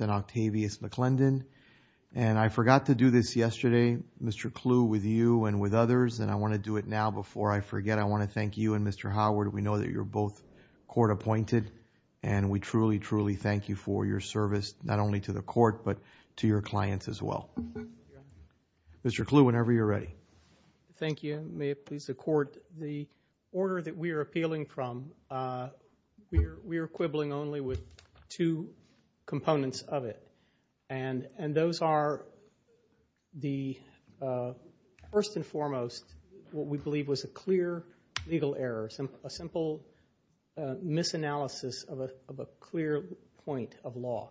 and Octavius McClendon. And I forgot to do this yesterday, Mr. Clue, with you and with others, and I want to do it now before I forget. I want to thank you and Mr. Howard. We know that you're both court appointed, and we truly, truly thank you for your service, not only to the court, but to your clients as well. Mr. Clue, whenever you're ready. Thank you. May it please the court, the order that we are appealing from, we are quibbling only with two components of it. And those are the first and foremost, what we believe was a clear legal error, a simple misanalysis of a clear point of law.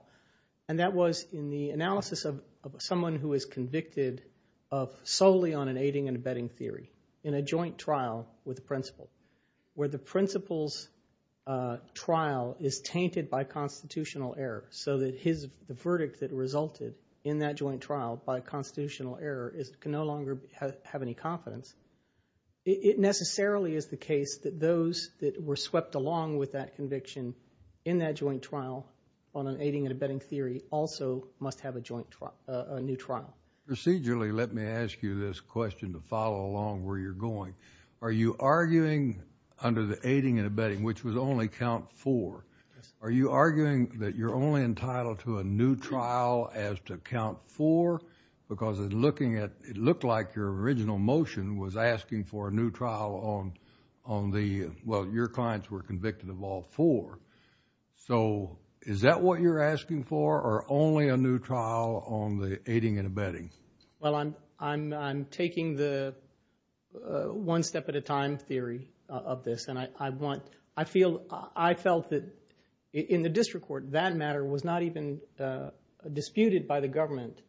And that was in the analysis of someone who is convicted of solely on an aiding and abetting theory in a joint trial with the principal, where the principal's trial is tainted by constitutional error so that the verdict that resulted in that joint trial by constitutional error can no longer have any confidence. It necessarily is the case that those that were swept along with that conviction in that joint trial on an aiding and abetting theory also must have a joint trial, a new trial. Procedurally, let me ask you this question to follow along where you're going. Are you arguing under the aiding and abetting, which was only count four, are you arguing that you're only entitled to a new trial as to count four? Because it looked like your original motion was asking for a new trial on the, well, your clients were convicted of all four. So is that what you're asking for, only a new trial on the aiding and abetting? Well, I'm taking the one step at a time theory of this and I want, I feel, I felt that in the district court that matter was not even disputed by the government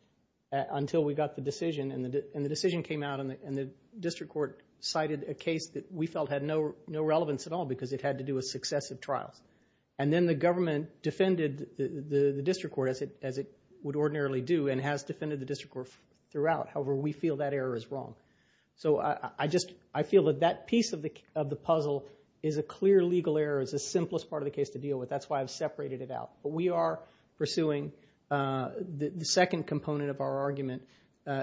until we got the decision and the decision came out and the district court cited a case that we felt had no relevance at all because it had to do with as it would ordinarily do and has defended the district court throughout. However, we feel that error is wrong. So I just, I feel that that piece of the puzzle is a clear legal error. It's the simplest part of the case to deal with. That's why I've separated it out. But we are pursuing the second component of our argument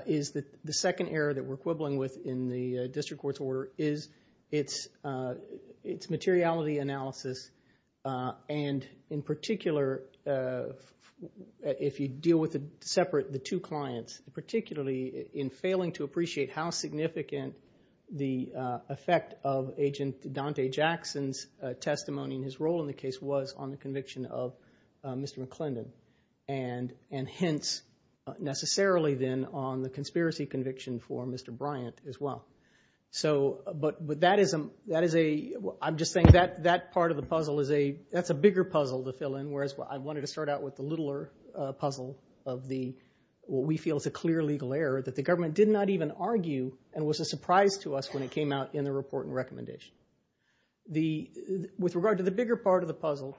is that the second error that we're quibbling with in the district court's order is its materiality analysis and in particular, if you deal with a separate, the two clients, particularly in failing to appreciate how significant the effect of Agent Dante Jackson's testimony in his role in the case was on the conviction of Mr. McClendon and hence necessarily then on the conspiracy conviction for Mr. Bryant as well. So, but, but that is a, that is a, I'm just saying that, that part of the puzzle is a, that's a bigger puzzle to fill in. Whereas I wanted to start out with the littler puzzle of the, what we feel is a clear legal error that the government did not even argue and was a surprise to us when it came out in the report and recommendation. The, with regard to the bigger part of the puzzle,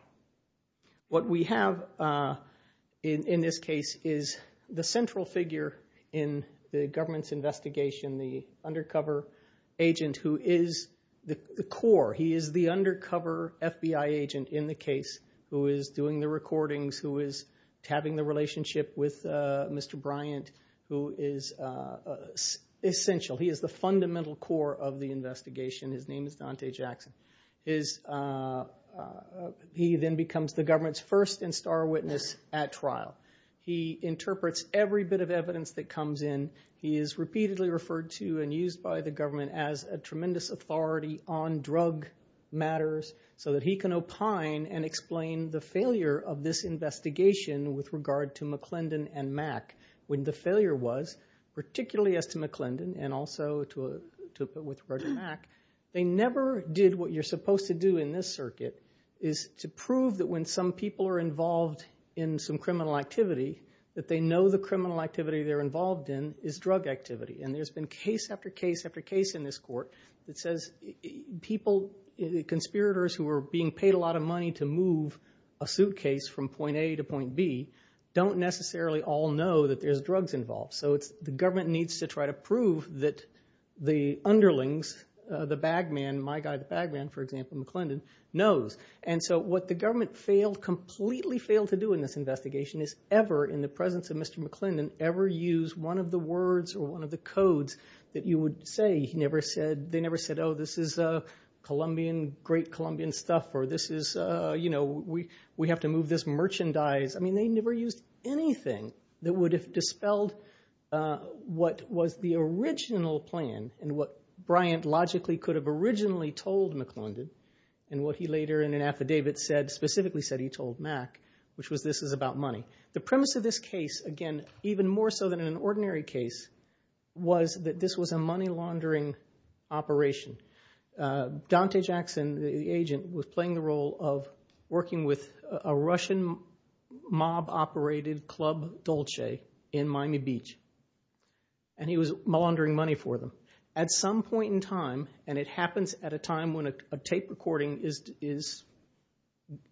what we have in this case is the central figure in the government's investigation, the undercover agent who is the core. He is the undercover FBI agent in the case who is doing the recordings, who is having the relationship with Mr. Bryant, who is essential. He is the fundamental core of the investigation. His name is Dante Jackson. Is, he then becomes the government's first and star witness at trial. He interprets every bit of evidence that comes in. He is repeatedly referred to and used by the government as a tremendous authority on drug matters so that he can opine and explain the failure of this investigation with regard to McClendon and Mack. When the failure was, particularly as to McClendon and also to, with regard to Mack, they never did what you're supposed to do in this circuit is to prove that when some people are involved in some criminal activity, that they know the activity they're involved in is drug activity. And there's been case after case after case in this court that says people, conspirators who are being paid a lot of money to move a suitcase from point A to point B don't necessarily all know that there's drugs involved. So it's, the government needs to try to prove that the underlings, the bag man, my guy, the bag man, for example, McClendon, knows. And so what the government failed, completely failed to do in this investigation is ever, in the presence of Mr. McClendon, ever use one of the words or one of the codes that you would say. He never said, they never said, oh, this is a Colombian, great Colombian stuff, or this is, you know, we have to move this merchandise. I mean, they never used anything that would have dispelled what was the original plan and what Bryant logically could have originally told McClendon and what he later in an affidavit said, specifically said he told Mac, which was this is about money. The premise of this case, again, even more so than an ordinary case, was that this was a money laundering operation. Dante Jackson, the agent, was playing the role of working with a Russian mob-operated club, Dolce, in Miami Beach. And he was laundering money for them. At some point in time, and it happens at a time when a tape recording is,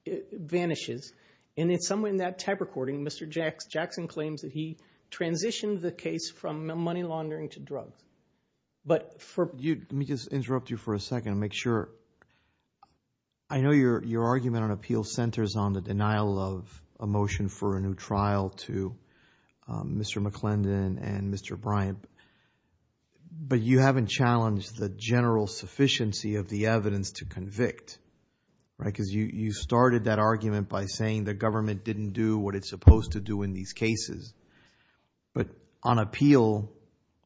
it vanishes, and at some point in that tape recording, Mr. Jackson claims that he transitioned the case from money laundering to drugs. But for you, let me just interrupt you for a second and make sure, I know your argument on appeal centers on the denial of a motion for a new trial to Mr. McClendon and Mr. Bryant, but you haven't challenged the general sufficiency of the evidence to convict, right? Because you started that argument by saying the government didn't do what it's supposed to do in these cases. But on appeal,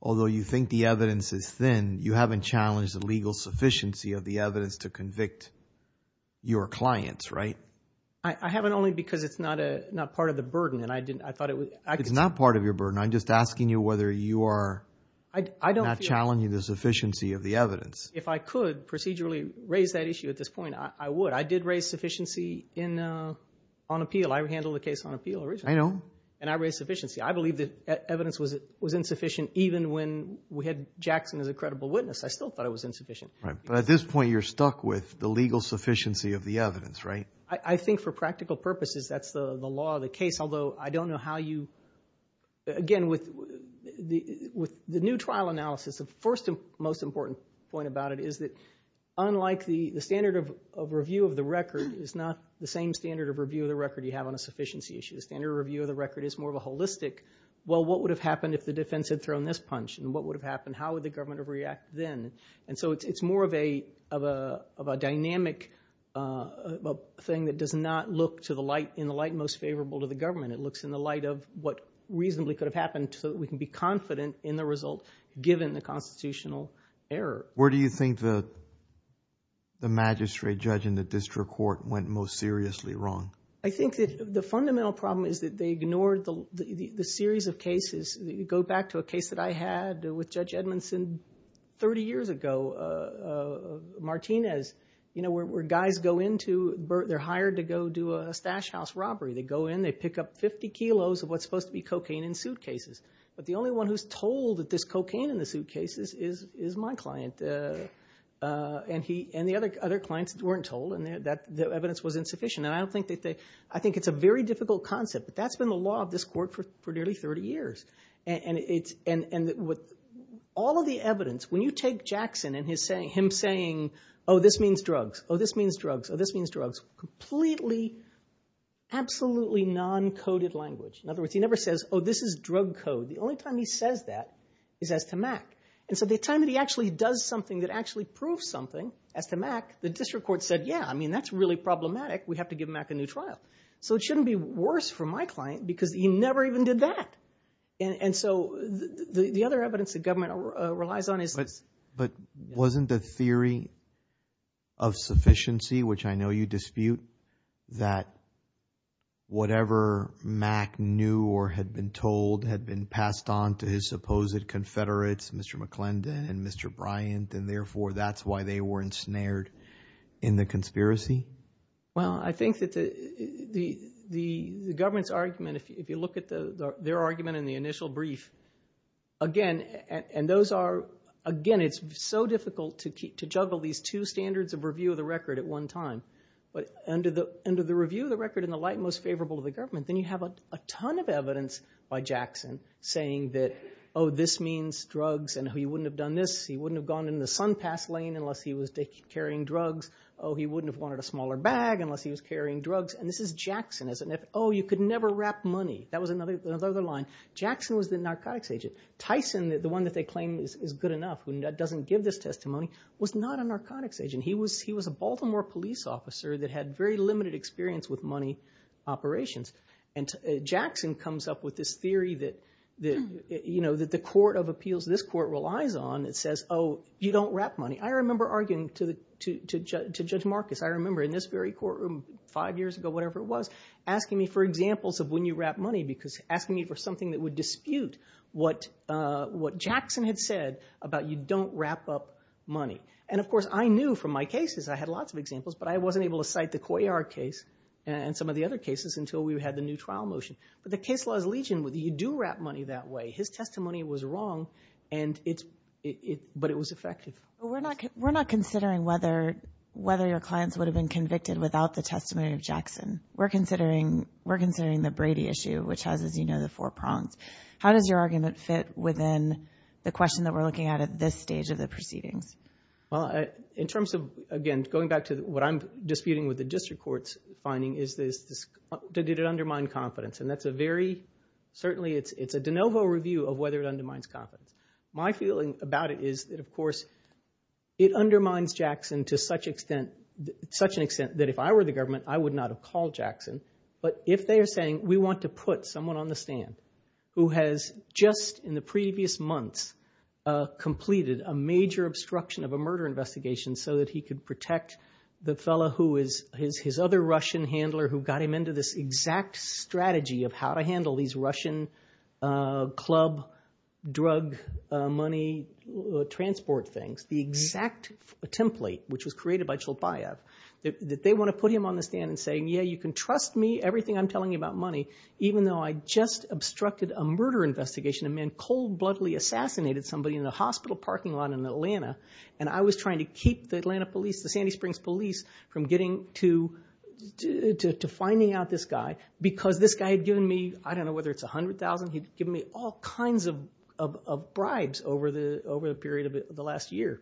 although you think the evidence is thin, you haven't challenged the legal sufficiency of the evidence to convict your clients, right? I haven't only because it's not a, not part of the burden. And I didn't, I thought it was, it's not part of your burden. I'm just asking you whether you are, I don't feel. I'm not challenging the sufficiency of the evidence. If I could procedurally raise that issue at this point, I would. I did raise sufficiency in, on appeal. I handled the case on appeal originally. I know. And I raised sufficiency. I believe that evidence was, was insufficient even when we had Jackson as a credible witness. I still thought it was insufficient. Right. But at this point, you're stuck with the legal sufficiency of the evidence, right? I think for practical purposes, that's the law of the case. Although I don't know how you, again, with the, with the new trial analysis, the first and most important point about it is that unlike the, the standard of review of the record is not the same standard of review of the record you have on a sufficiency issue. The standard review of the record is more of a holistic, well, what would have happened if the defense had thrown this punch? And what would have happened? How would the government have reacted then? And so it's more of a, of a, of a dynamic thing that does not look to the light, in the light most favorable to the government. It looks in the light of what reasonably could have happened so that we can be confident in the result given the constitutional error. Where do you think the, the magistrate judge in the district court went most seriously wrong? I think that the fundamental problem is that they ignored the, the, the series of cases. Go back to a case that I had with Judge Edmondson 30 years ago, Martinez, you know, where, where guys go into, they're hired to go do a stash house robbery. They go in, they pick up 50 kilos of what's supposed to be cocaine in suitcases. But the only one who's told that there's cocaine in the suitcases is, is my client. And he, and the other, other clients weren't told and that the evidence was insufficient. And I don't think that they, I think it's a very difficult concept, but that's been the law of this court for, for nearly 30 years. And, and it's, and, and with all of the evidence, when you take Jackson and his saying, him saying, oh, this means drugs, oh, this means drugs, oh, this means drugs, completely absolutely non-coded language. In other words, he never says, oh, this is drug code. The only time he says that is as to Mac. And so the time that he actually does something that actually proves something as to Mac, the district court said, yeah, I mean, that's really problematic. We have to give Mac a new trial. So it shouldn't be worse for my client because he never even did that. And, and so the, the other evidence that government relies on is this. But, but wasn't the theory of sufficiency, which I know you dispute, that whatever Mac knew or had been told had been passed on to his supposed confederates, Mr. McClendon and Mr. Bryant, and therefore that's why they were ensnared in the conspiracy? Well, I think that the, the, the government's argument, if you look at the, their argument in the initial brief, again, and those are, again, it's so difficult to keep, to juggle these two standards of review of the record at one time. But under the, under the review of the record in the light most favorable of the government, then you have a ton of evidence by Jackson saying that, oh, this means drugs and he wouldn't have done this. He wouldn't have gone in the SunPass lane unless he was carrying drugs. Oh, he wouldn't have wanted a smaller bag unless he was carrying drugs. And this is Jackson as an, oh, you could never wrap money. That was another, another line. Jackson was the narcotics agent. Tyson, the one that they was not a narcotics agent. He was, he was a Baltimore police officer that had very limited experience with money operations. And Jackson comes up with this theory that, that, you know, that the court of appeals, this court relies on, it says, oh, you don't wrap money. I remember arguing to the, to Judge Marcus, I remember in this very courtroom five years ago, whatever it was, asking me for examples of when you wrap money because asking me for something that would dispute what, what Jackson had said about you don't wrap up money. And of course, I knew from my cases, I had lots of examples, but I wasn't able to cite the Coyard case and some of the other cases until we had the new trial motion. But the case laws legion, whether you do wrap money that way, his testimony was wrong and it's, but it was effective. But we're not, we're not considering whether, whether your clients would have been convicted without the testimony of Jackson. We're considering, we're considering the Brady issue, which has, as you know, the four prongs. How does your argument fit within the question that we're looking at at this stage of the proceedings? Well, in terms of, again, going back to what I'm disputing with the district court's finding is this, did it undermine confidence? And that's a very, certainly it's, it's a de novo review of whether it undermines confidence. My feeling about it is that, of course, it undermines Jackson to such extent, such an extent that if I were the someone on the stand who has just in the previous months completed a major obstruction of a murder investigation so that he could protect the fellow who is his, his other Russian handler, who got him into this exact strategy of how to handle these Russian club drug money transport things, the exact template, which was created by Chlopaev, that they want to put him on the stand and saying, yeah, you can trust me, everything I'm telling you about money, even though I just obstructed a murder investigation, a man cold-bloodily assassinated somebody in the hospital parking lot in Atlanta, and I was trying to keep the Atlanta police, the Sandy Springs police from getting to, to finding out this guy because this guy had given me, I don't know whether it's a hundred thousand, he'd given me all kinds of, of bribes over the, over the period of the last year.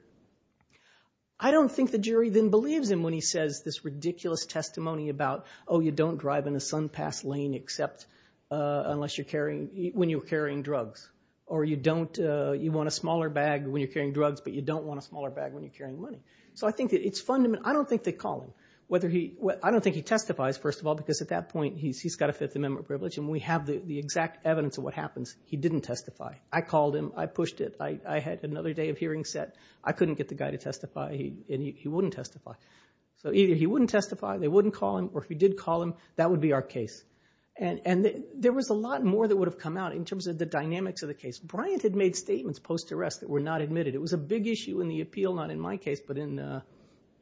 I don't think the jury then believes him when he says this ridiculous testimony about, oh, you don't drive in a sun-passed lane except unless you're carrying, when you're carrying drugs, or you don't, you want a smaller bag when you're carrying drugs, but you don't want a smaller bag when you're carrying money. So I think that it's fundamental, I don't think they call him, whether he, well, I don't think he testifies, first of all, because at that point he's, he's got a Fifth Amendment privilege, and we have the exact evidence of what happens. He didn't testify. I called him, I pushed it, I had another day of hearing set. I couldn't get the guy to testify, and he wouldn't testify. So either he wouldn't testify, they wouldn't call him, or if he did call him, that would be our case. And, and there was a lot more that would have come out in terms of the dynamics of the case. Bryant had made statements post-arrest that were not admitted. It was a big issue in the appeal, not in my case, but in,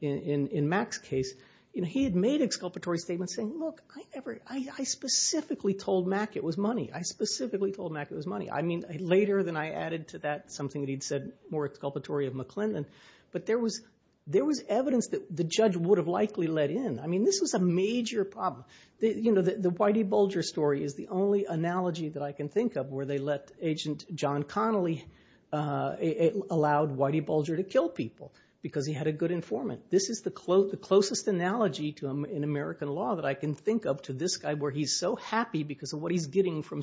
in, in Mac's case, you know, he had made exculpatory statements saying, look, I ever, I, I specifically told Mac it was money. I specifically told Mac it was money. I mean, later than I added to that something that he'd said more exculpatory of McClendon. But there was, there was evidence that the judge would have likely let in. I mean, this was a major problem. The, you know, the Whitey Bulger story is the only analogy that I can think of where they let Agent John Connolly, it allowed Whitey Bulger to kill people because he had a good informant. This is the close, the closest analogy to him in American law that I can think of to this guy where he's so happy because of what he's getting from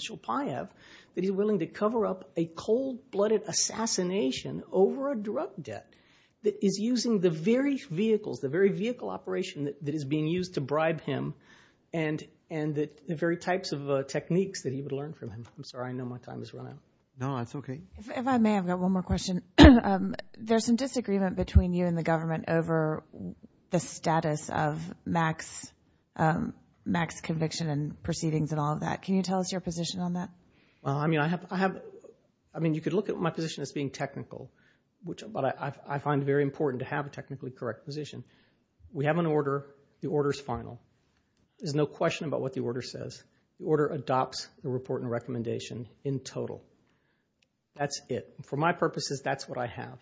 over a drug debt that is using the very vehicles, the very vehicle operation that is being used to bribe him and, and the very types of techniques that he would learn from him. I'm sorry, I know my time has run out. No, that's okay. If I may, I've got one more question. There's some disagreement between you and the government over the status of Mac's, Mac's conviction and proceedings and all of that. Can you tell us your position on that? Well, I mean, I have, I have, I mean, you could look at my position as being technical, which, but I find very important to have a technically correct position. We have an order, the order's final. There's no question about what the order says. The order adopts the report and recommendation in total. That's it. For my purposes, that's what I have.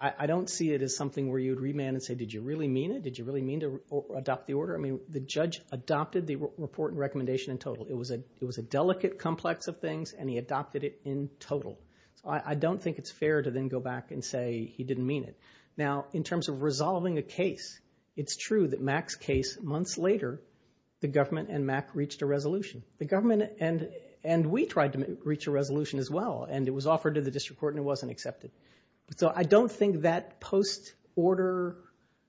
I don't see it as something where you'd remand and say, did you really mean it? Did you really mean to adopt the order? I mean, the judge adopted the report and recommendation in total. It was a, it was a delicate complex of things and he adopted it in total. So I, I don't think it's fair to then go back and say he didn't mean it. Now, in terms of resolving a case, it's true that Mac's case, months later, the government and Mac reached a resolution. The government and, and we tried to reach a resolution as well and it was offered to the district court and it wasn't accepted. So I don't think that post-order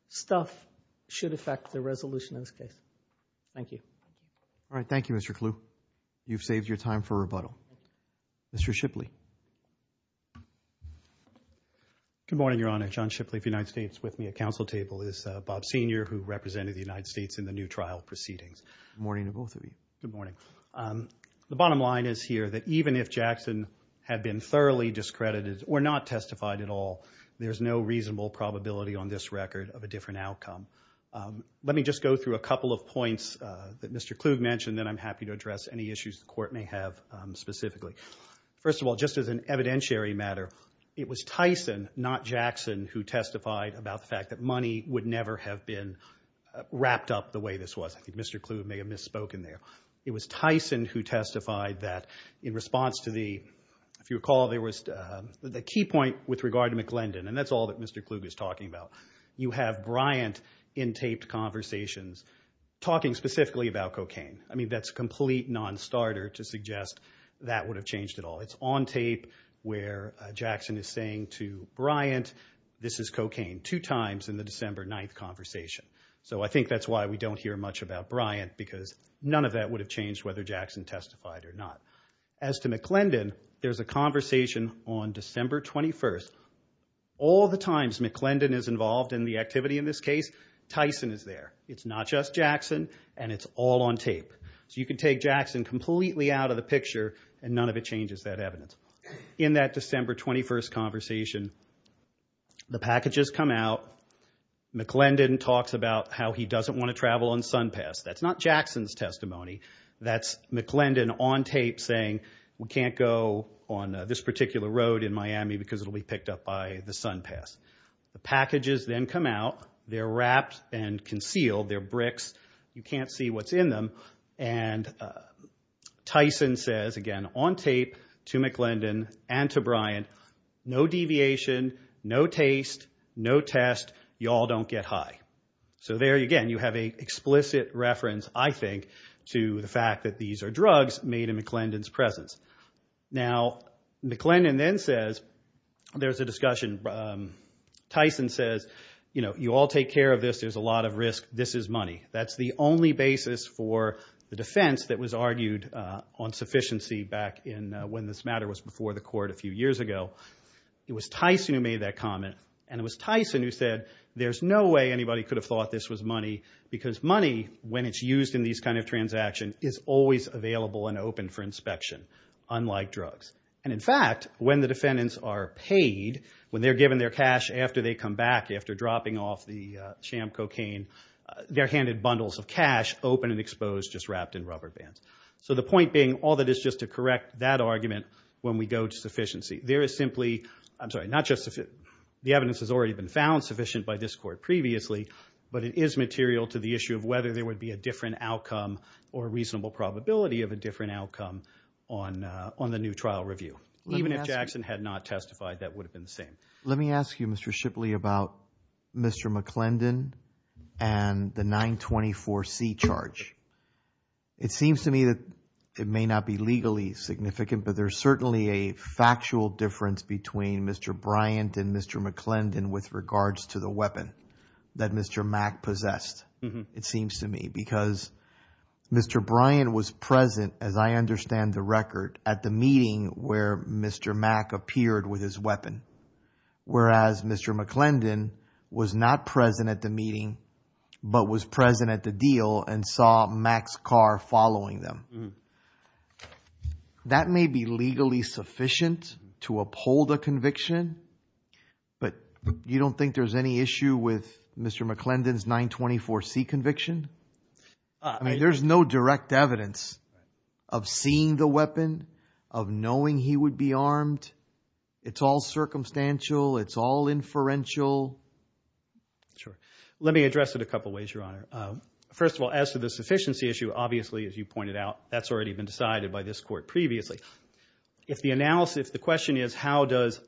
stuff should affect the resolution of this case. Thank you. All right. Thank you, Mr. Clue. You've saved your time for rebuttal. Mr. Shipley. Good morning, Your Honor. John Shipley of the United States with me at counsel table is Bob Senior who represented the United States in the new trial proceedings. Good morning to both of you. Good morning. The bottom line is here that even if Jackson had been thoroughly discredited or not testified at all, there's no reasonable probability on this record of a different outcome. Let me just go through a couple of points that Mr. Clue mentioned, then I'm happy to address any issues the court may have specifically. First of all, just as an evidentiary matter, it was Tyson, not Jackson, who testified about the fact that money would never have been wrapped up the way this was. I think Mr. Clue may have misspoken there. It was Tyson who testified that in response to the, if you recall, there was the key point with regard to McClendon and that's all that Mr. Clue is talking about. You have Bryant in taped conversations talking specifically about cocaine. I mean, that's a complete non-starter to suggest that would have changed at all. It's on tape where Jackson is saying to Bryant, this is cocaine, two times in the December 9th conversation. So I think that's why we don't hear much about Bryant because none of that would have changed whether Jackson testified or not. As to McClendon, there's a conversation on December 21st. All the times McClendon is involved in the activity in this case, Tyson is there. It's not just Jackson and it's all on tape. So you can take Jackson completely out of the picture and none of it changes that evidence. In that December 21st conversation, the packages come out, McClendon talks about how he doesn't want to travel on SunPass. That's not Jackson's testimony. That's McClendon on tape saying we can't go on this particular road in Miami because it'll be the SunPass. The packages then come out. They're wrapped and concealed. They're bricks. You can't see what's in them. And Tyson says, again, on tape to McClendon and to Bryant, no deviation, no taste, no test. Y'all don't get high. So there, again, you have an explicit reference, I think, to the fact that these are drugs made in McClendon's presence. Now, McClendon then says there's a discussion. Tyson says, you know, you all take care of this. There's a lot of risk. This is money. That's the only basis for the defense that was argued on sufficiency back in when this matter was before the court a few years ago. It was Tyson who made that comment, and it was Tyson who said there's no way anybody could have thought this was money because money, when it's used in these kind of transactions, is always available and open for inspection, unlike drugs. And in fact, when the defendants are paid, when they're given their cash after they come back after dropping off the sham cocaine, they're handed bundles of cash, open and exposed, just wrapped in rubber bands. So the point being, all that is just to correct that argument when we go to sufficiency. There is simply, I'm sorry, not just, the evidence has already been found sufficient by this court previously, but it is material to the issue of whether there would be a different outcome or a reasonable probability of a different outcome on the new trial review. Even if Jackson had not testified, that would have been the same. Let me ask you, Mr. Shipley, about Mr. McClendon and the 924C charge. It seems to me that it may not be legally significant, but there's certainly a factual difference between Mr. Bryant and Mr. McClendon with regards to the weapon that Mr. Mack possessed, it seems to me, because Mr. Bryant was present, as I understand the record, at the meeting where Mr. Mack appeared with his weapon, whereas Mr. McClendon was not present at the meeting, but was present at the deal and saw Mack's car following them. That may be legally sufficient to uphold a conviction, but you don't think there's any issue with Mr. McClendon's 924C conviction? I mean, there's no direct evidence of seeing the weapon, of knowing he would be armed. It's all circumstantial. It's all inferential. Sure. Let me address it a couple of ways, Your Honor. First of all, as to the sufficiency issue, obviously, as you pointed out, that's already been decided by this court previously. If the analysis, if the question is how does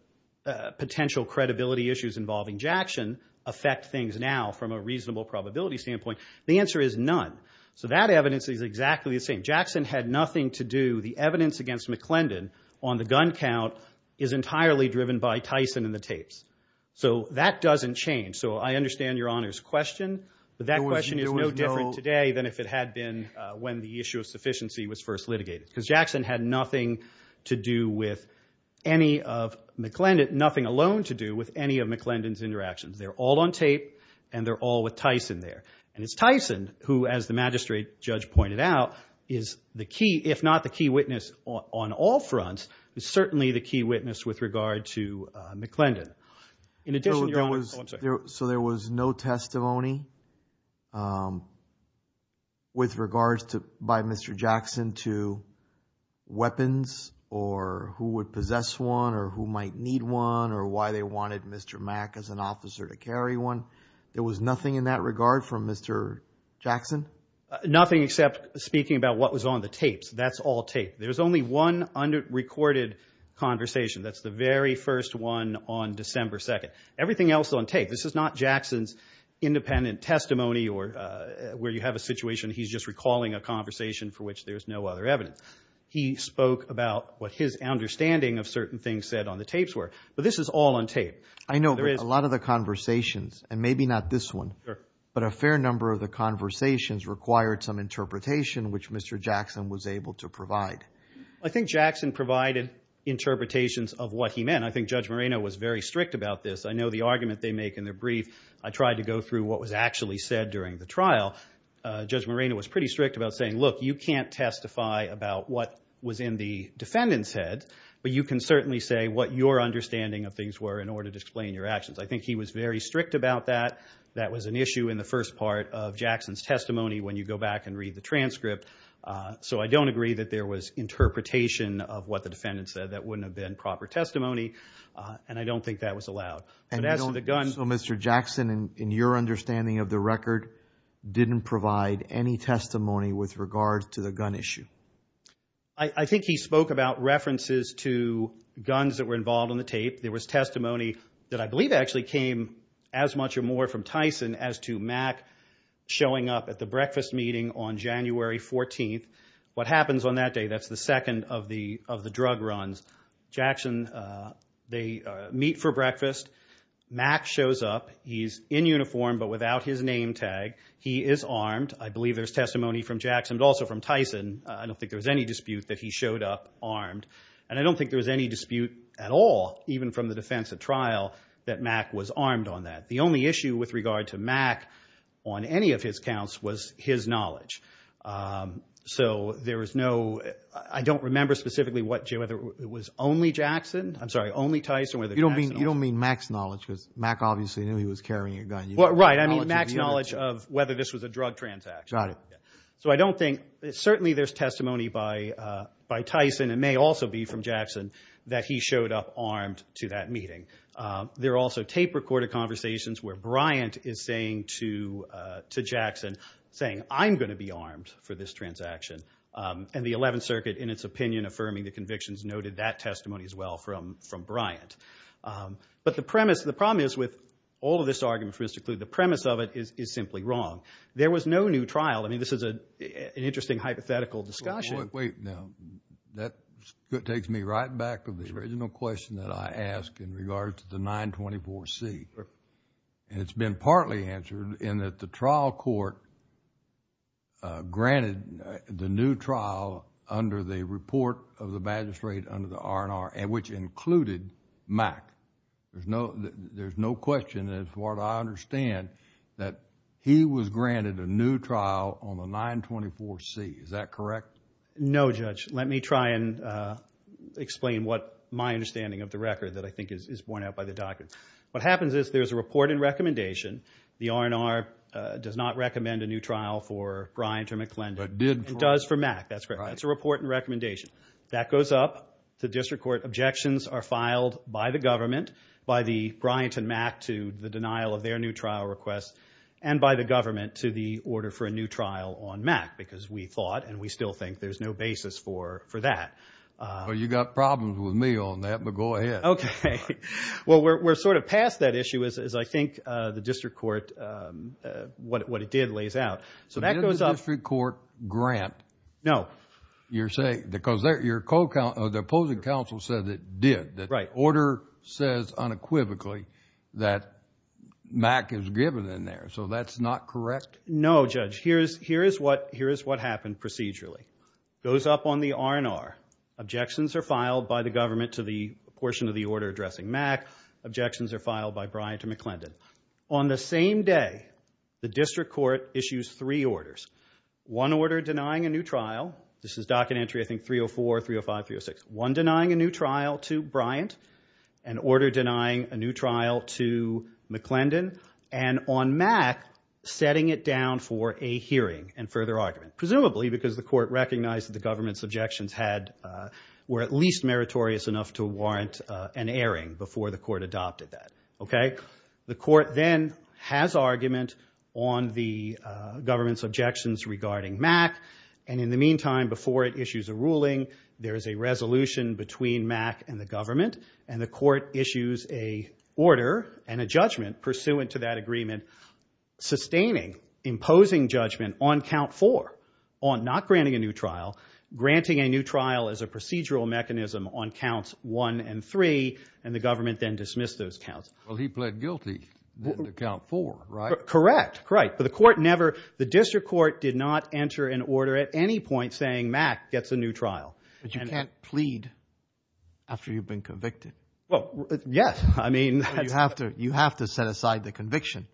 potential credibility issues involving Jackson affect things now from a reasonable probability standpoint, the answer is none. So that evidence is exactly the same. Jackson had nothing to do, the evidence against McClendon on the gun count is entirely driven by Tyson and the tapes. So that doesn't change. So I understand Your Honor's question, but that question is no different today than if it had been when the issue of sufficiency was first litigated, because Jackson had nothing to do with any of McClendon, nothing at all. They're all on tape and they're all with Tyson there. And it's Tyson who, as the magistrate judge pointed out, is the key, if not the key witness on all fronts, is certainly the key witness with regard to McClendon. In addition, Your Honor, oh, I'm sorry. So there was no testimony with regards to, by Mr. Jackson to weapons or who would possess one or who might need one or why they wanted Mr. Mack as an officer to carry one. There was nothing in that regard from Mr. Jackson? Nothing except speaking about what was on the tapes. That's all tape. There's only one recorded conversation. That's the very first one on December 2nd. Everything else is on tape. This is not Jackson's independent testimony or where you have a situation he's just recalling a conversation for which there's no other evidence. He spoke about what his understanding of certain things said on the tapes were. But this is all on tape. I know, but a lot of the conversations, and maybe not this one, but a fair number of the conversations required some interpretation which Mr. Jackson was able to provide. I think Jackson provided interpretations of what he meant. I think Judge Moreno was very strict about this. I know the argument they make in their brief, I tried to go through what was actually said during the trial. Judge Moreno was pretty strict about saying, look, you can't defend and said, but you can certainly say what your understanding of things were in order to explain your actions. I think he was very strict about that. That was an issue in the first part of Jackson's testimony when you go back and read the transcript. So I don't agree that there was interpretation of what the defendant said that wouldn't have been proper testimony. And I don't think that was allowed. So Mr. Jackson, in your understanding of the record, didn't provide any testimony with regard to the gun issue? I think he spoke about references to guns that were involved on the tape. There was testimony that I believe actually came as much or more from Tyson as to Mack showing up at the breakfast meeting on January 14th. What happens on that day, that's the second of the drug runs. Jackson, they meet for breakfast. Mack shows up. He's in uniform, but without his name tag. He is armed. I believe there's testimony from Jackson, but also from Tyson. I don't think there was any dispute that he showed up armed. And I don't think there was any dispute at all, even from the defense at trial, that Mack was armed on that. The only issue with regard to Mack on any of his counts was his knowledge. You don't mean Mack's knowledge, because Mack obviously knew he was carrying a gun. Right. I mean Mack's knowledge of whether this was a drug transaction. So I don't think, certainly there's testimony by Tyson, and may also be from Jackson, that he showed up armed to that meeting. There are also tape-recorded conversations where Bryant is saying to Jackson, saying, I'm going to be armed for this transaction. And the 11th from Bryant. But the premise, the problem is with all of this argument for Mr. Kluge, the premise of it is simply wrong. There was no new trial. I mean, this is an interesting hypothetical discussion. Wait, no. That takes me right back to the original question that I asked in regard to the 924C. And it's been partly answered in that the trial court granted the trial under the report of the magistrate under the R&R, which included Mack. There's no question as far as I understand that he was granted a new trial on the 924C. Is that correct? No, Judge. Let me try and explain what my understanding of the record that I think is borne out by the doctor. What happens is there's a report and recommendation. The R&R does not That's correct. That's a report and recommendation. That goes up. The district court objections are filed by the government, by the Bryant and Mack to the denial of their new trial request, and by the government to the order for a new trial on Mack, because we thought and we still think there's no basis for that. Well, you got problems with me on that, but go ahead. Okay. Well, we're sort of past that issue, as I think the district court, what it did lays out. So that goes up. Didn't the district court grant? No. Because the opposing counsel said it did. The order says unequivocally that Mack is given in there. So that's not correct? No, Judge. Here is what happened procedurally. Goes up on the R&R. Objections are filed by the government to the portion of the order addressing Mack. Objections are filed by Bryant and McClendon. On the same day, the district court issues three orders. One order denying a new trial. This is docket entry, I think, 304, 305, 306. One denying a new trial to Bryant. An order denying a new trial to McClendon. And on Mack, setting it down for a hearing and further argument. Presumably because the court recognized that the government's objections were at least meritorious enough to has argument on the government's objections regarding Mack. And in the meantime, before it issues a ruling, there is a resolution between Mack and the government, and the court issues a order and a judgment pursuant to that agreement, sustaining, imposing judgment on count four on not granting a new trial, granting a new trial as a procedural mechanism on counts one and three, and the government then dismissed those counts. Well, he pled guilty to count four, right? Correct. Correct. But the court never, the district court did not enter an order at any point saying Mack gets a new trial. But you can't plead after you've been convicted. Well, yes. I mean, you have to, you have to set aside the conviction.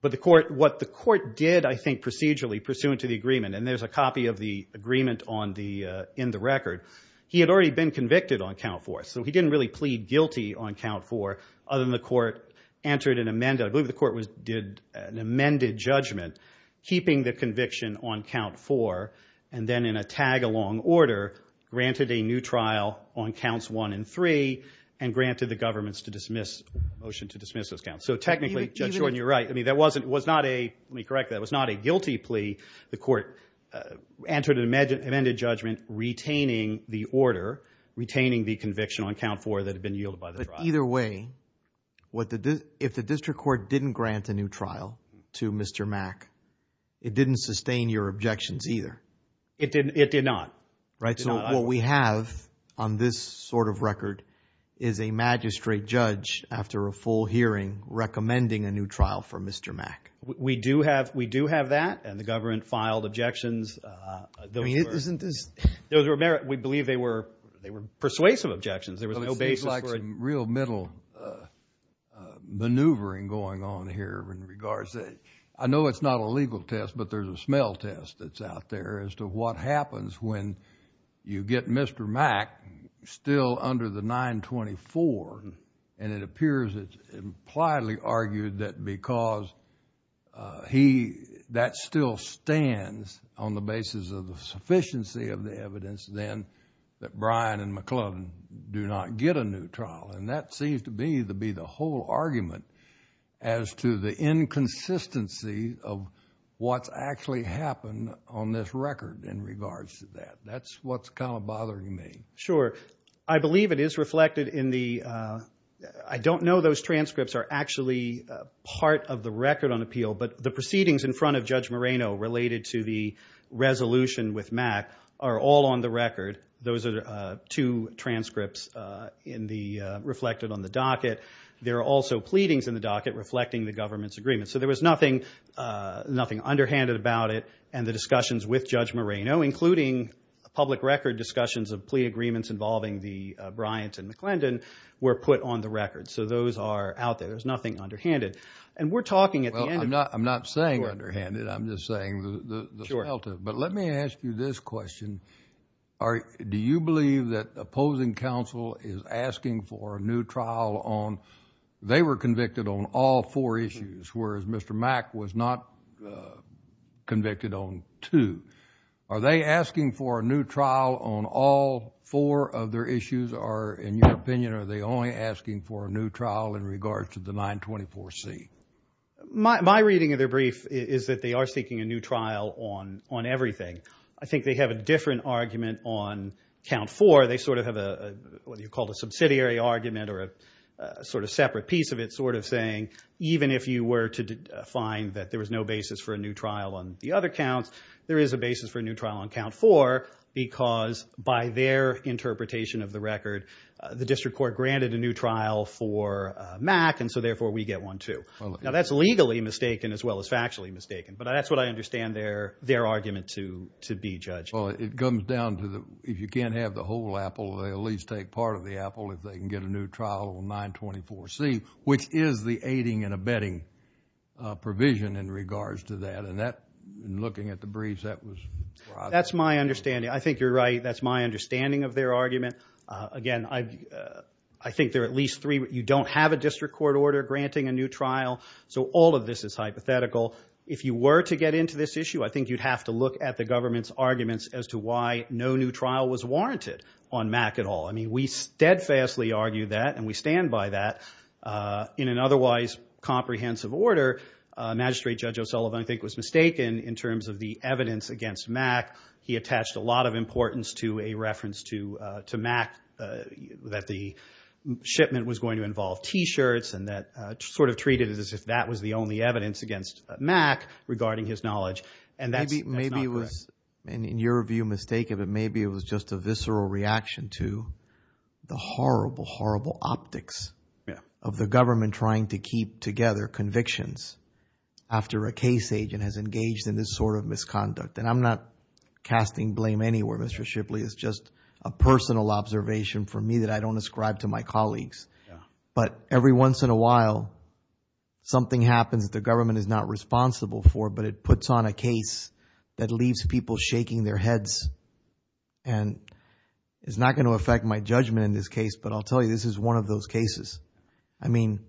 But the court, what the court did, I think, procedurally pursuant to the agreement, and there's a copy of the agreement on the, in the record, he had already been convicted on count four. So he didn't really plead guilty on count four, other than the court entered an amended, I believe the court did an amended judgment, keeping the conviction on count four, and then in a tag-along order, granted a new trial on counts one and three, and granted the government's to dismiss, motion to dismiss those counts. So technically, Judge Jordan, you're right. I mean, that wasn't, was not a, let me correct that, was not a guilty plea. The court entered an amended judgment retaining the order, retaining the conviction on count four that had been yielded by the trial. But either way, what the, if the district court didn't grant a new trial to Mr. Mack, it didn't sustain your objections either. It didn't, it did not. Right. So what we have on this sort of record is a magistrate judge, after a full hearing, recommending a new trial for Mr. Mack. We do have, we do have that, and the government filed objections. I mean, isn't this? Those were, we believe they were, they were persuasive objections. There was no basis for it. It seems like some real middle maneuvering going on here in regards to, I know it's not a legal test, but there's a smell test that's out there as to what happens when you get Mr. Mack still under the 924, and it appears it's widely argued that because he, that still stands on the basis of the sufficiency of the evidence then that Brian and McClellan do not get a new trial. And that seems to be, to be the whole argument as to the inconsistency of what's actually happened on this record in regards to that. That's what's kind of bothering me. Sure. I believe it is reflected in the, I don't know those transcripts are actually part of the record on appeal, but the proceedings in front of Judge Moreno related to the resolution with Mack are all on the record. Those are two transcripts in the, reflected on the docket. There are also pleadings in the docket reflecting the government's agreement. So there was nothing, nothing underhanded about it, and the discussions with Judge Moreno, including public record discussions of plea agreements involving the McClendon were put on the record. So those are out there. There's nothing underhanded. And we're talking at the end of it. I'm not, I'm not saying underhanded. I'm just saying the the smell to it. But let me ask you this question. Are, do you believe that opposing counsel is asking for a new trial on, they were convicted on all four issues, whereas Mr. Mack was not convicted on two. Are they asking for a new trial on all four of their issues, or in your opinion, are they only asking for a new trial in regards to the 924c? My reading of their brief is that they are seeking a new trial on, on everything. I think they have a different argument on count four. They sort of have a, what you call a subsidiary argument or a sort of separate piece of it, sort of saying, even if you were to find that there was no basis for a new trial on the other counts, there is a basis for a new trial on count four, because by their interpretation of the record, the district court granted a new trial for Mack, and so therefore we get one too. Now that's legally mistaken as well as factually mistaken. But that's what I understand their, their argument to, to be judged. Well, it comes down to the, if you can't have the whole apple, they at least take part of the apple if they can get a new trial on 924c, which is the aiding and abetting provision in regards to that. And that, in looking at the briefs, that was. That's my understanding. I think you're right. That's my understanding of their argument. Again, I, I think there are at least three, you don't have a district court order granting a new trial. So all of this is hypothetical. If you were to get into this issue, I think you'd have to look at the government's arguments as to why no new trial was warranted on Mack at all. I mean, we steadfastly argue that and we stand by that in an otherwise comprehensive order. Magistrate Judge O'Sullivan, I think was mistaken in terms of the evidence against Mack. He attached a lot of importance to a reference to, to Mack, that the shipment was going to involve t-shirts and that sort of treated it as if that was the only evidence against Mack regarding his knowledge. And that's not correct. Maybe it was, in your view, mistaken, but maybe it was just a visceral reaction to the horrible, horrible optics of the government trying to keep together convictions after a case agent has engaged in this sort of misconduct. And I'm not casting blame anywhere, Mr. Shipley. It's just a personal observation for me that I don't ascribe to my colleagues. But every once in a while, something happens that the government is not responsible for, but it puts on a case that leaves people shaking their heads. And it's not going to affect my judgment in this case, but I'll tell you, this is one of those cases. I mean,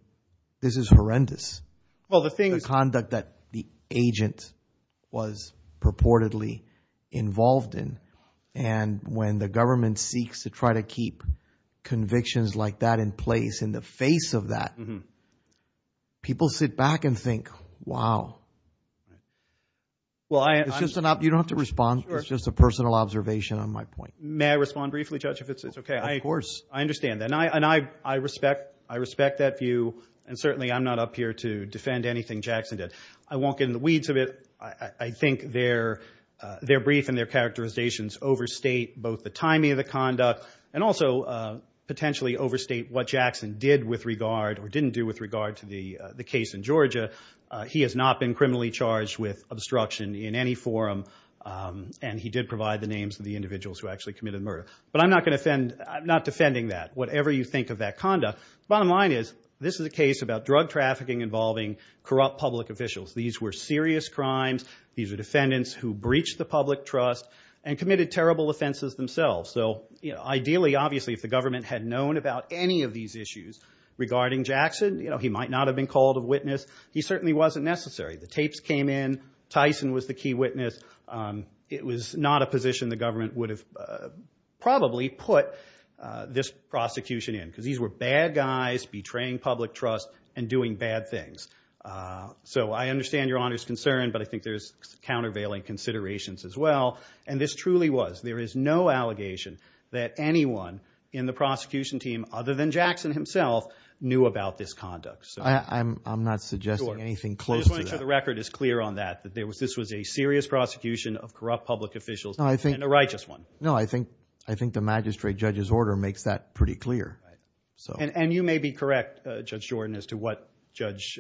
this is horrendous. The conduct that the agent was purportedly involved in. And when the government seeks to try to keep convictions like that in place, in the face of that, people sit back and think, wow. You don't have to respond. It's just a personal observation on my point. May I respond briefly, Judge, if it's okay? Of course. I understand that. And I respect that view. And certainly I'm not up here to defend anything Jackson did. I won't get in the weeds of it. I think their brief and their characterizations overstate both the timing of the conduct and also potentially overstate what Jackson did with regard or didn't do with regard to the case in Georgia. He has not been criminally charged with obstruction in any forum. And he did provide the names of the individuals who actually committed the murder. But I'm not going to defend, I'm not defending that. Whatever you think of that conduct. Bottom line is, this is a case about drug trafficking involving corrupt public officials. These were serious crimes. These are defendants who breached the public trust and committed terrible offenses themselves. So ideally, obviously, if the government had known about any of these issues regarding Jackson, he might not have been called a witness. He certainly wasn't necessary. The tapes came in. Tyson was the key witness. It was not a position the government would have probably put this prosecution in. Because these were bad guys betraying public trust and doing bad things. So I understand Your Honor's concern, but I think there's countervailing considerations as well. And this truly was. There is no allegation that anyone in the prosecution team, other than Jackson himself, knew about this conduct. I'm not suggesting anything close to that. I just want to make sure the record is clear on that. That this was a serious prosecution of corrupt public officials and a righteous one. No, I think the magistrate judge's order makes that pretty clear. And you may be correct, Judge Jordan, as to what Judge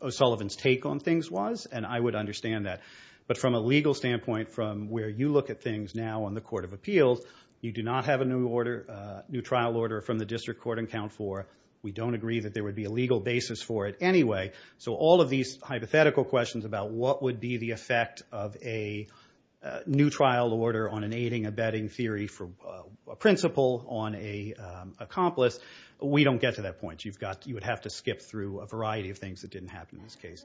O'Sullivan's take on things was. And I would understand that. But from a legal standpoint, from where you look at things now on the Court of Appeals, you do not have a new trial order from the District Court in Count 4. We don't agree that there would be a legal basis for it anyway. So all of these hypothetical questions about what would be the effect of a new trial order on an aiding-abetting theory for a principal on an accomplice, we don't get to that point. You would have to skip through a variety of things that didn't happen in this case.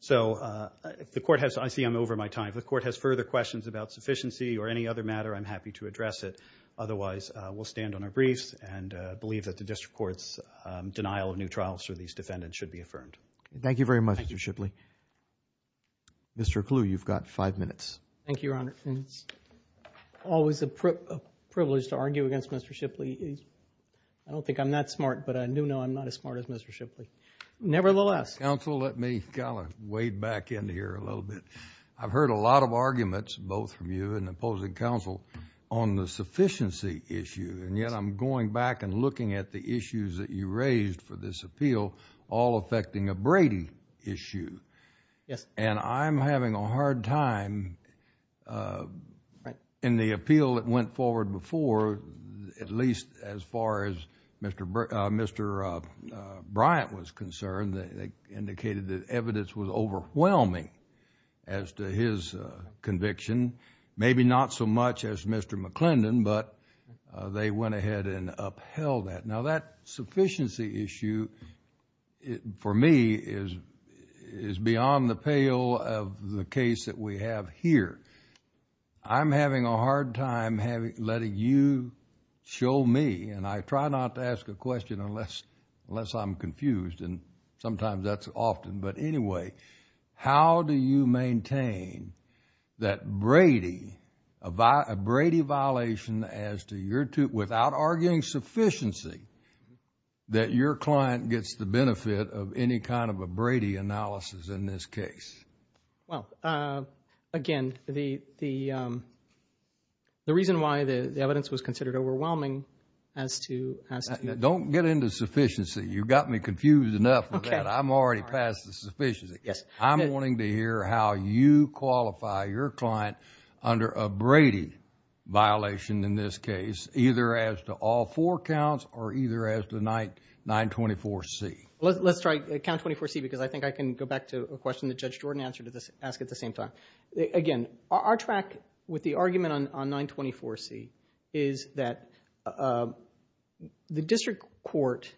So I see I'm over my time. If the Court has further questions about sufficiency or any other matter, I'm happy to address it. Otherwise, we'll stand on our briefs and believe that the District Court's denial of new trials for these defendants should be affirmed. Thank you very much, Mr. Shipley. Mr. Kluwe, you've got five minutes. Thank you, Your Honor. It's always a privilege to argue against Mr. Shipley. I don't think I'm that smart, but I do know I'm not as smart as Mr. Shipley. Nevertheless— Let me wade back in here a little bit. I've heard a lot of arguments, both from you and opposing counsel, on the sufficiency issue, and yet I'm going back and looking at the issues that you raised for this appeal, all affecting a Brady issue. And I'm having a hard time in the appeal that went forward before, at least as far as Mr. Bryant was concerned, indicated that evidence was overwhelming as to his conviction. Maybe not so much as Mr. McClendon, but they went ahead and upheld that. Now, that sufficiency issue, for me, is beyond the pale of the case that we have here. I'm having a hard time letting you show me—and I try not to ask a question unless I'm confused, and sometimes that's often—but anyway, how do you maintain that Brady, a Brady violation as to your—without arguing sufficiency, that your client gets the benefit of any kind of a Brady analysis in this case? Well, again, the reason why the evidence was considered overwhelming as to— Don't get into sufficiency. You've got me confused enough with that. I'm already past the sufficiency. I'm wanting to hear how you qualify your client under a Brady violation in this case, either as to all four counts or either as to 924C. Let's try count 24C, because I think I can go back to a question that Judge Jordan asked at the same time. Again, our track with the argument on 924C is that the district court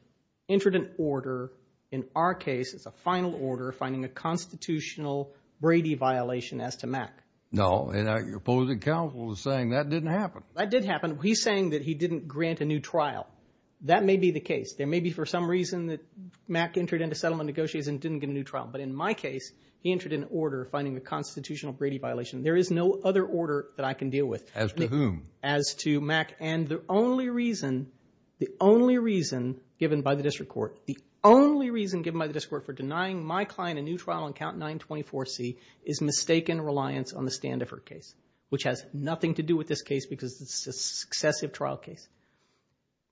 entered an order, in our case it's a final order, finding a constitutional Brady violation as to Mack. No, and our opposing counsel is saying that didn't happen. That did happen. He's saying that he didn't grant a new trial. That may be the case. There Mack entered into settlement negotiations and didn't get a new trial. But in my case, he entered an order finding a constitutional Brady violation. There is no other order that I can deal with. As to whom? As to Mack. And the only reason, the only reason given by the district court, the only reason given by the district court for denying my client a new trial on count 924C is mistaken reliance on the Standiford case, which has nothing to do with this case because it's a successive trial case.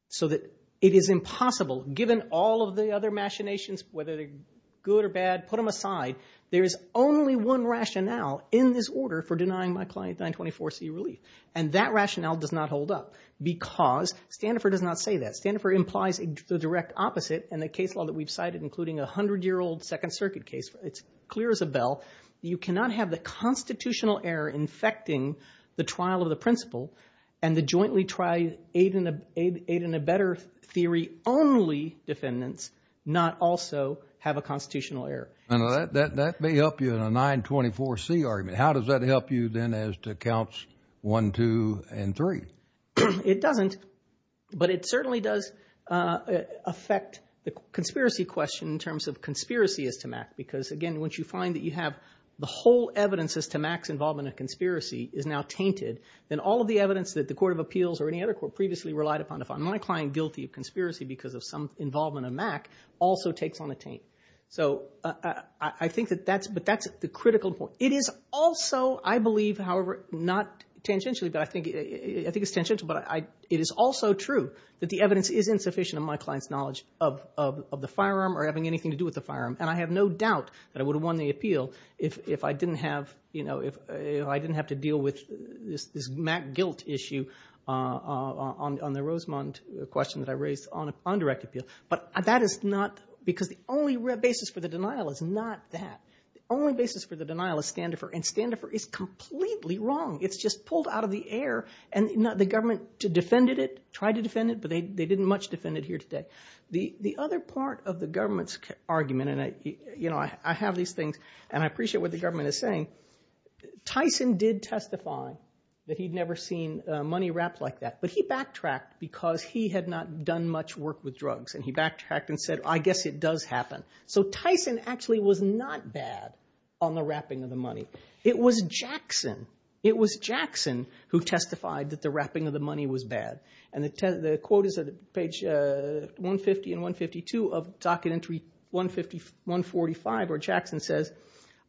So that it is impossible, given all of the other machinations, whether they're good or bad, put them aside. There is only one rationale in this order for denying my client 924C relief. And that rationale does not hold up because Standiford does not say that. Standiford implies the direct opposite in the case law that we've cited, including a 100-year-old Second Circuit case. It's clear as a bell. You cannot have the constitutional error infecting the trial of the eight and a better theory only defendants, not also have a constitutional error. And that may help you in a 924C argument. How does that help you then as to counts one, two, and three? It doesn't. But it certainly does affect the conspiracy question in terms of conspiracy as to Mack. Because again, once you find that you have the whole evidence as to Mack's involvement in conspiracy is now tainted, then all of the evidence that the Court of Appeals or any other court previously relied upon to find my client guilty of conspiracy because of some involvement of Mack also takes on a taint. So I think that that's, but that's the critical point. It is also, I believe, however, not tangentially, but I think it's tangential. But it is also true that the evidence is insufficient in my client's knowledge of the firearm or having anything to do with the firearm. And I have no doubt that I would have won the appeal if I didn't have, you know, if I didn't have to deal with this Mack guilt issue on the Rosemont question that I raised on a direct appeal. But that is not, because the only basis for the denial is not that. The only basis for the denial is standoffer. And standoffer is completely wrong. It's just pulled out of the air. And the government defended it, tried to defend it, but they didn't much defend it here today. The other part of the government's argument, and I, you know, I have these things, and I appreciate what the government is saying, Tyson did testify that he'd never seen money wrapped like that. But he backtracked because he had not done much work with drugs. And he backtracked and said, I guess it does happen. So Tyson actually was not bad on the wrapping of the money. It was Jackson. It was Jackson who testified that the wrapping of the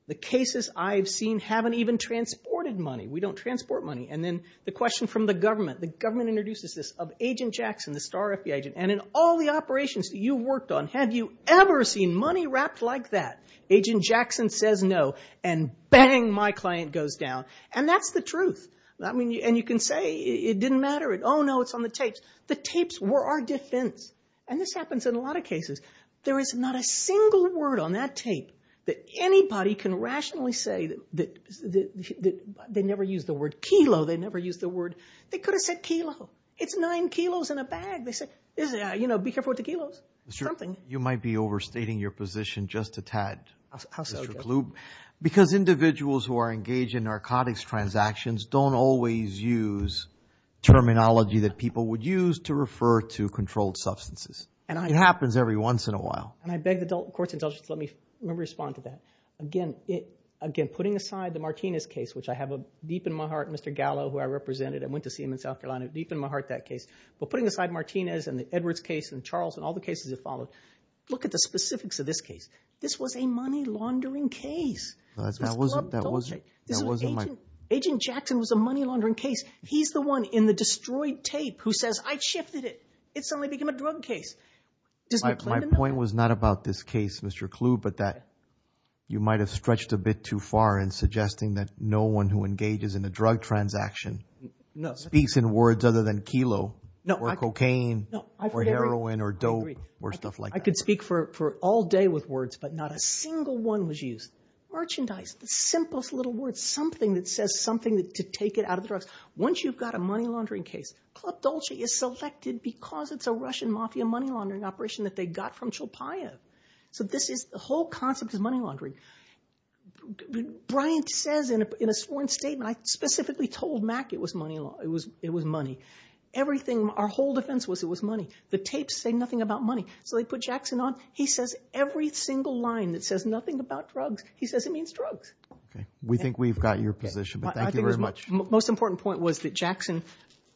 The cases I've seen haven't even transported money. We don't transport money. And then the question from the government, the government introduces this of Agent Jackson, the star FBI agent, and in all the operations that you've worked on, have you ever seen money wrapped like that? Agent Jackson says no. And bang, my client goes down. And that's the truth. I mean, and you can say it didn't matter. Oh, no, it's on the tapes. The tapes were our defense. And this happens in a lot of cases. There is not a single word on that tape that anybody can rationally say that they never used the word kilo. They never used the word. They could have said kilo. It's nine kilos in a bag. They say, you know, be careful with the kilos. Something. You might be overstating your position just a tad. How so? Because individuals who are engaged in narcotics transactions don't always use terminology that people would use to refer to controlled substances. And it happens every once in a while. And I beg the court's indulgence to let me respond to that again. Again, putting aside the Martinez case, which I have deep in my heart, Mr. Gallo, who I represented and went to see him in South Carolina, deep in my heart, that case. But putting aside Martinez and the Edwards case and Charles and all the cases that followed, look at the specifics of this case. This was a money laundering case. That wasn't. That wasn't. Agent Jackson was a money laundering case. He's the one in the destroyed tape who says, I shifted it. It suddenly became a drug case. My point was not about this case, Mr. Kluge, but that you might have stretched a bit too far in suggesting that no one who engages in a drug transaction speaks in words other than kilo or cocaine or heroin or dope or stuff like that. I could speak for all day with words, but not a single one was used. Merchandise, the simplest little word, something that says something to take it out of the drugs. Once you've got a money laundering case, Club Dolce is selected because it's a Russian mafia money laundering operation that they got from Chilpayev. So this is the whole concept of money laundering. Brian says in a sworn statement, I specifically told Mac it was money. Everything, our whole defense was it was money. The tapes say nothing about money. So they put Jackson on. He says every single line that says nothing about drugs, he says it means drugs. We think we've got your position, but thank you very much. Most important point was that Jackson,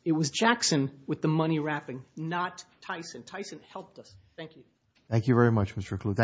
it was Jackson with the money wrapping, not Tyson. Tyson helped us. Thank you. Thank you very much, Mr. Kluge.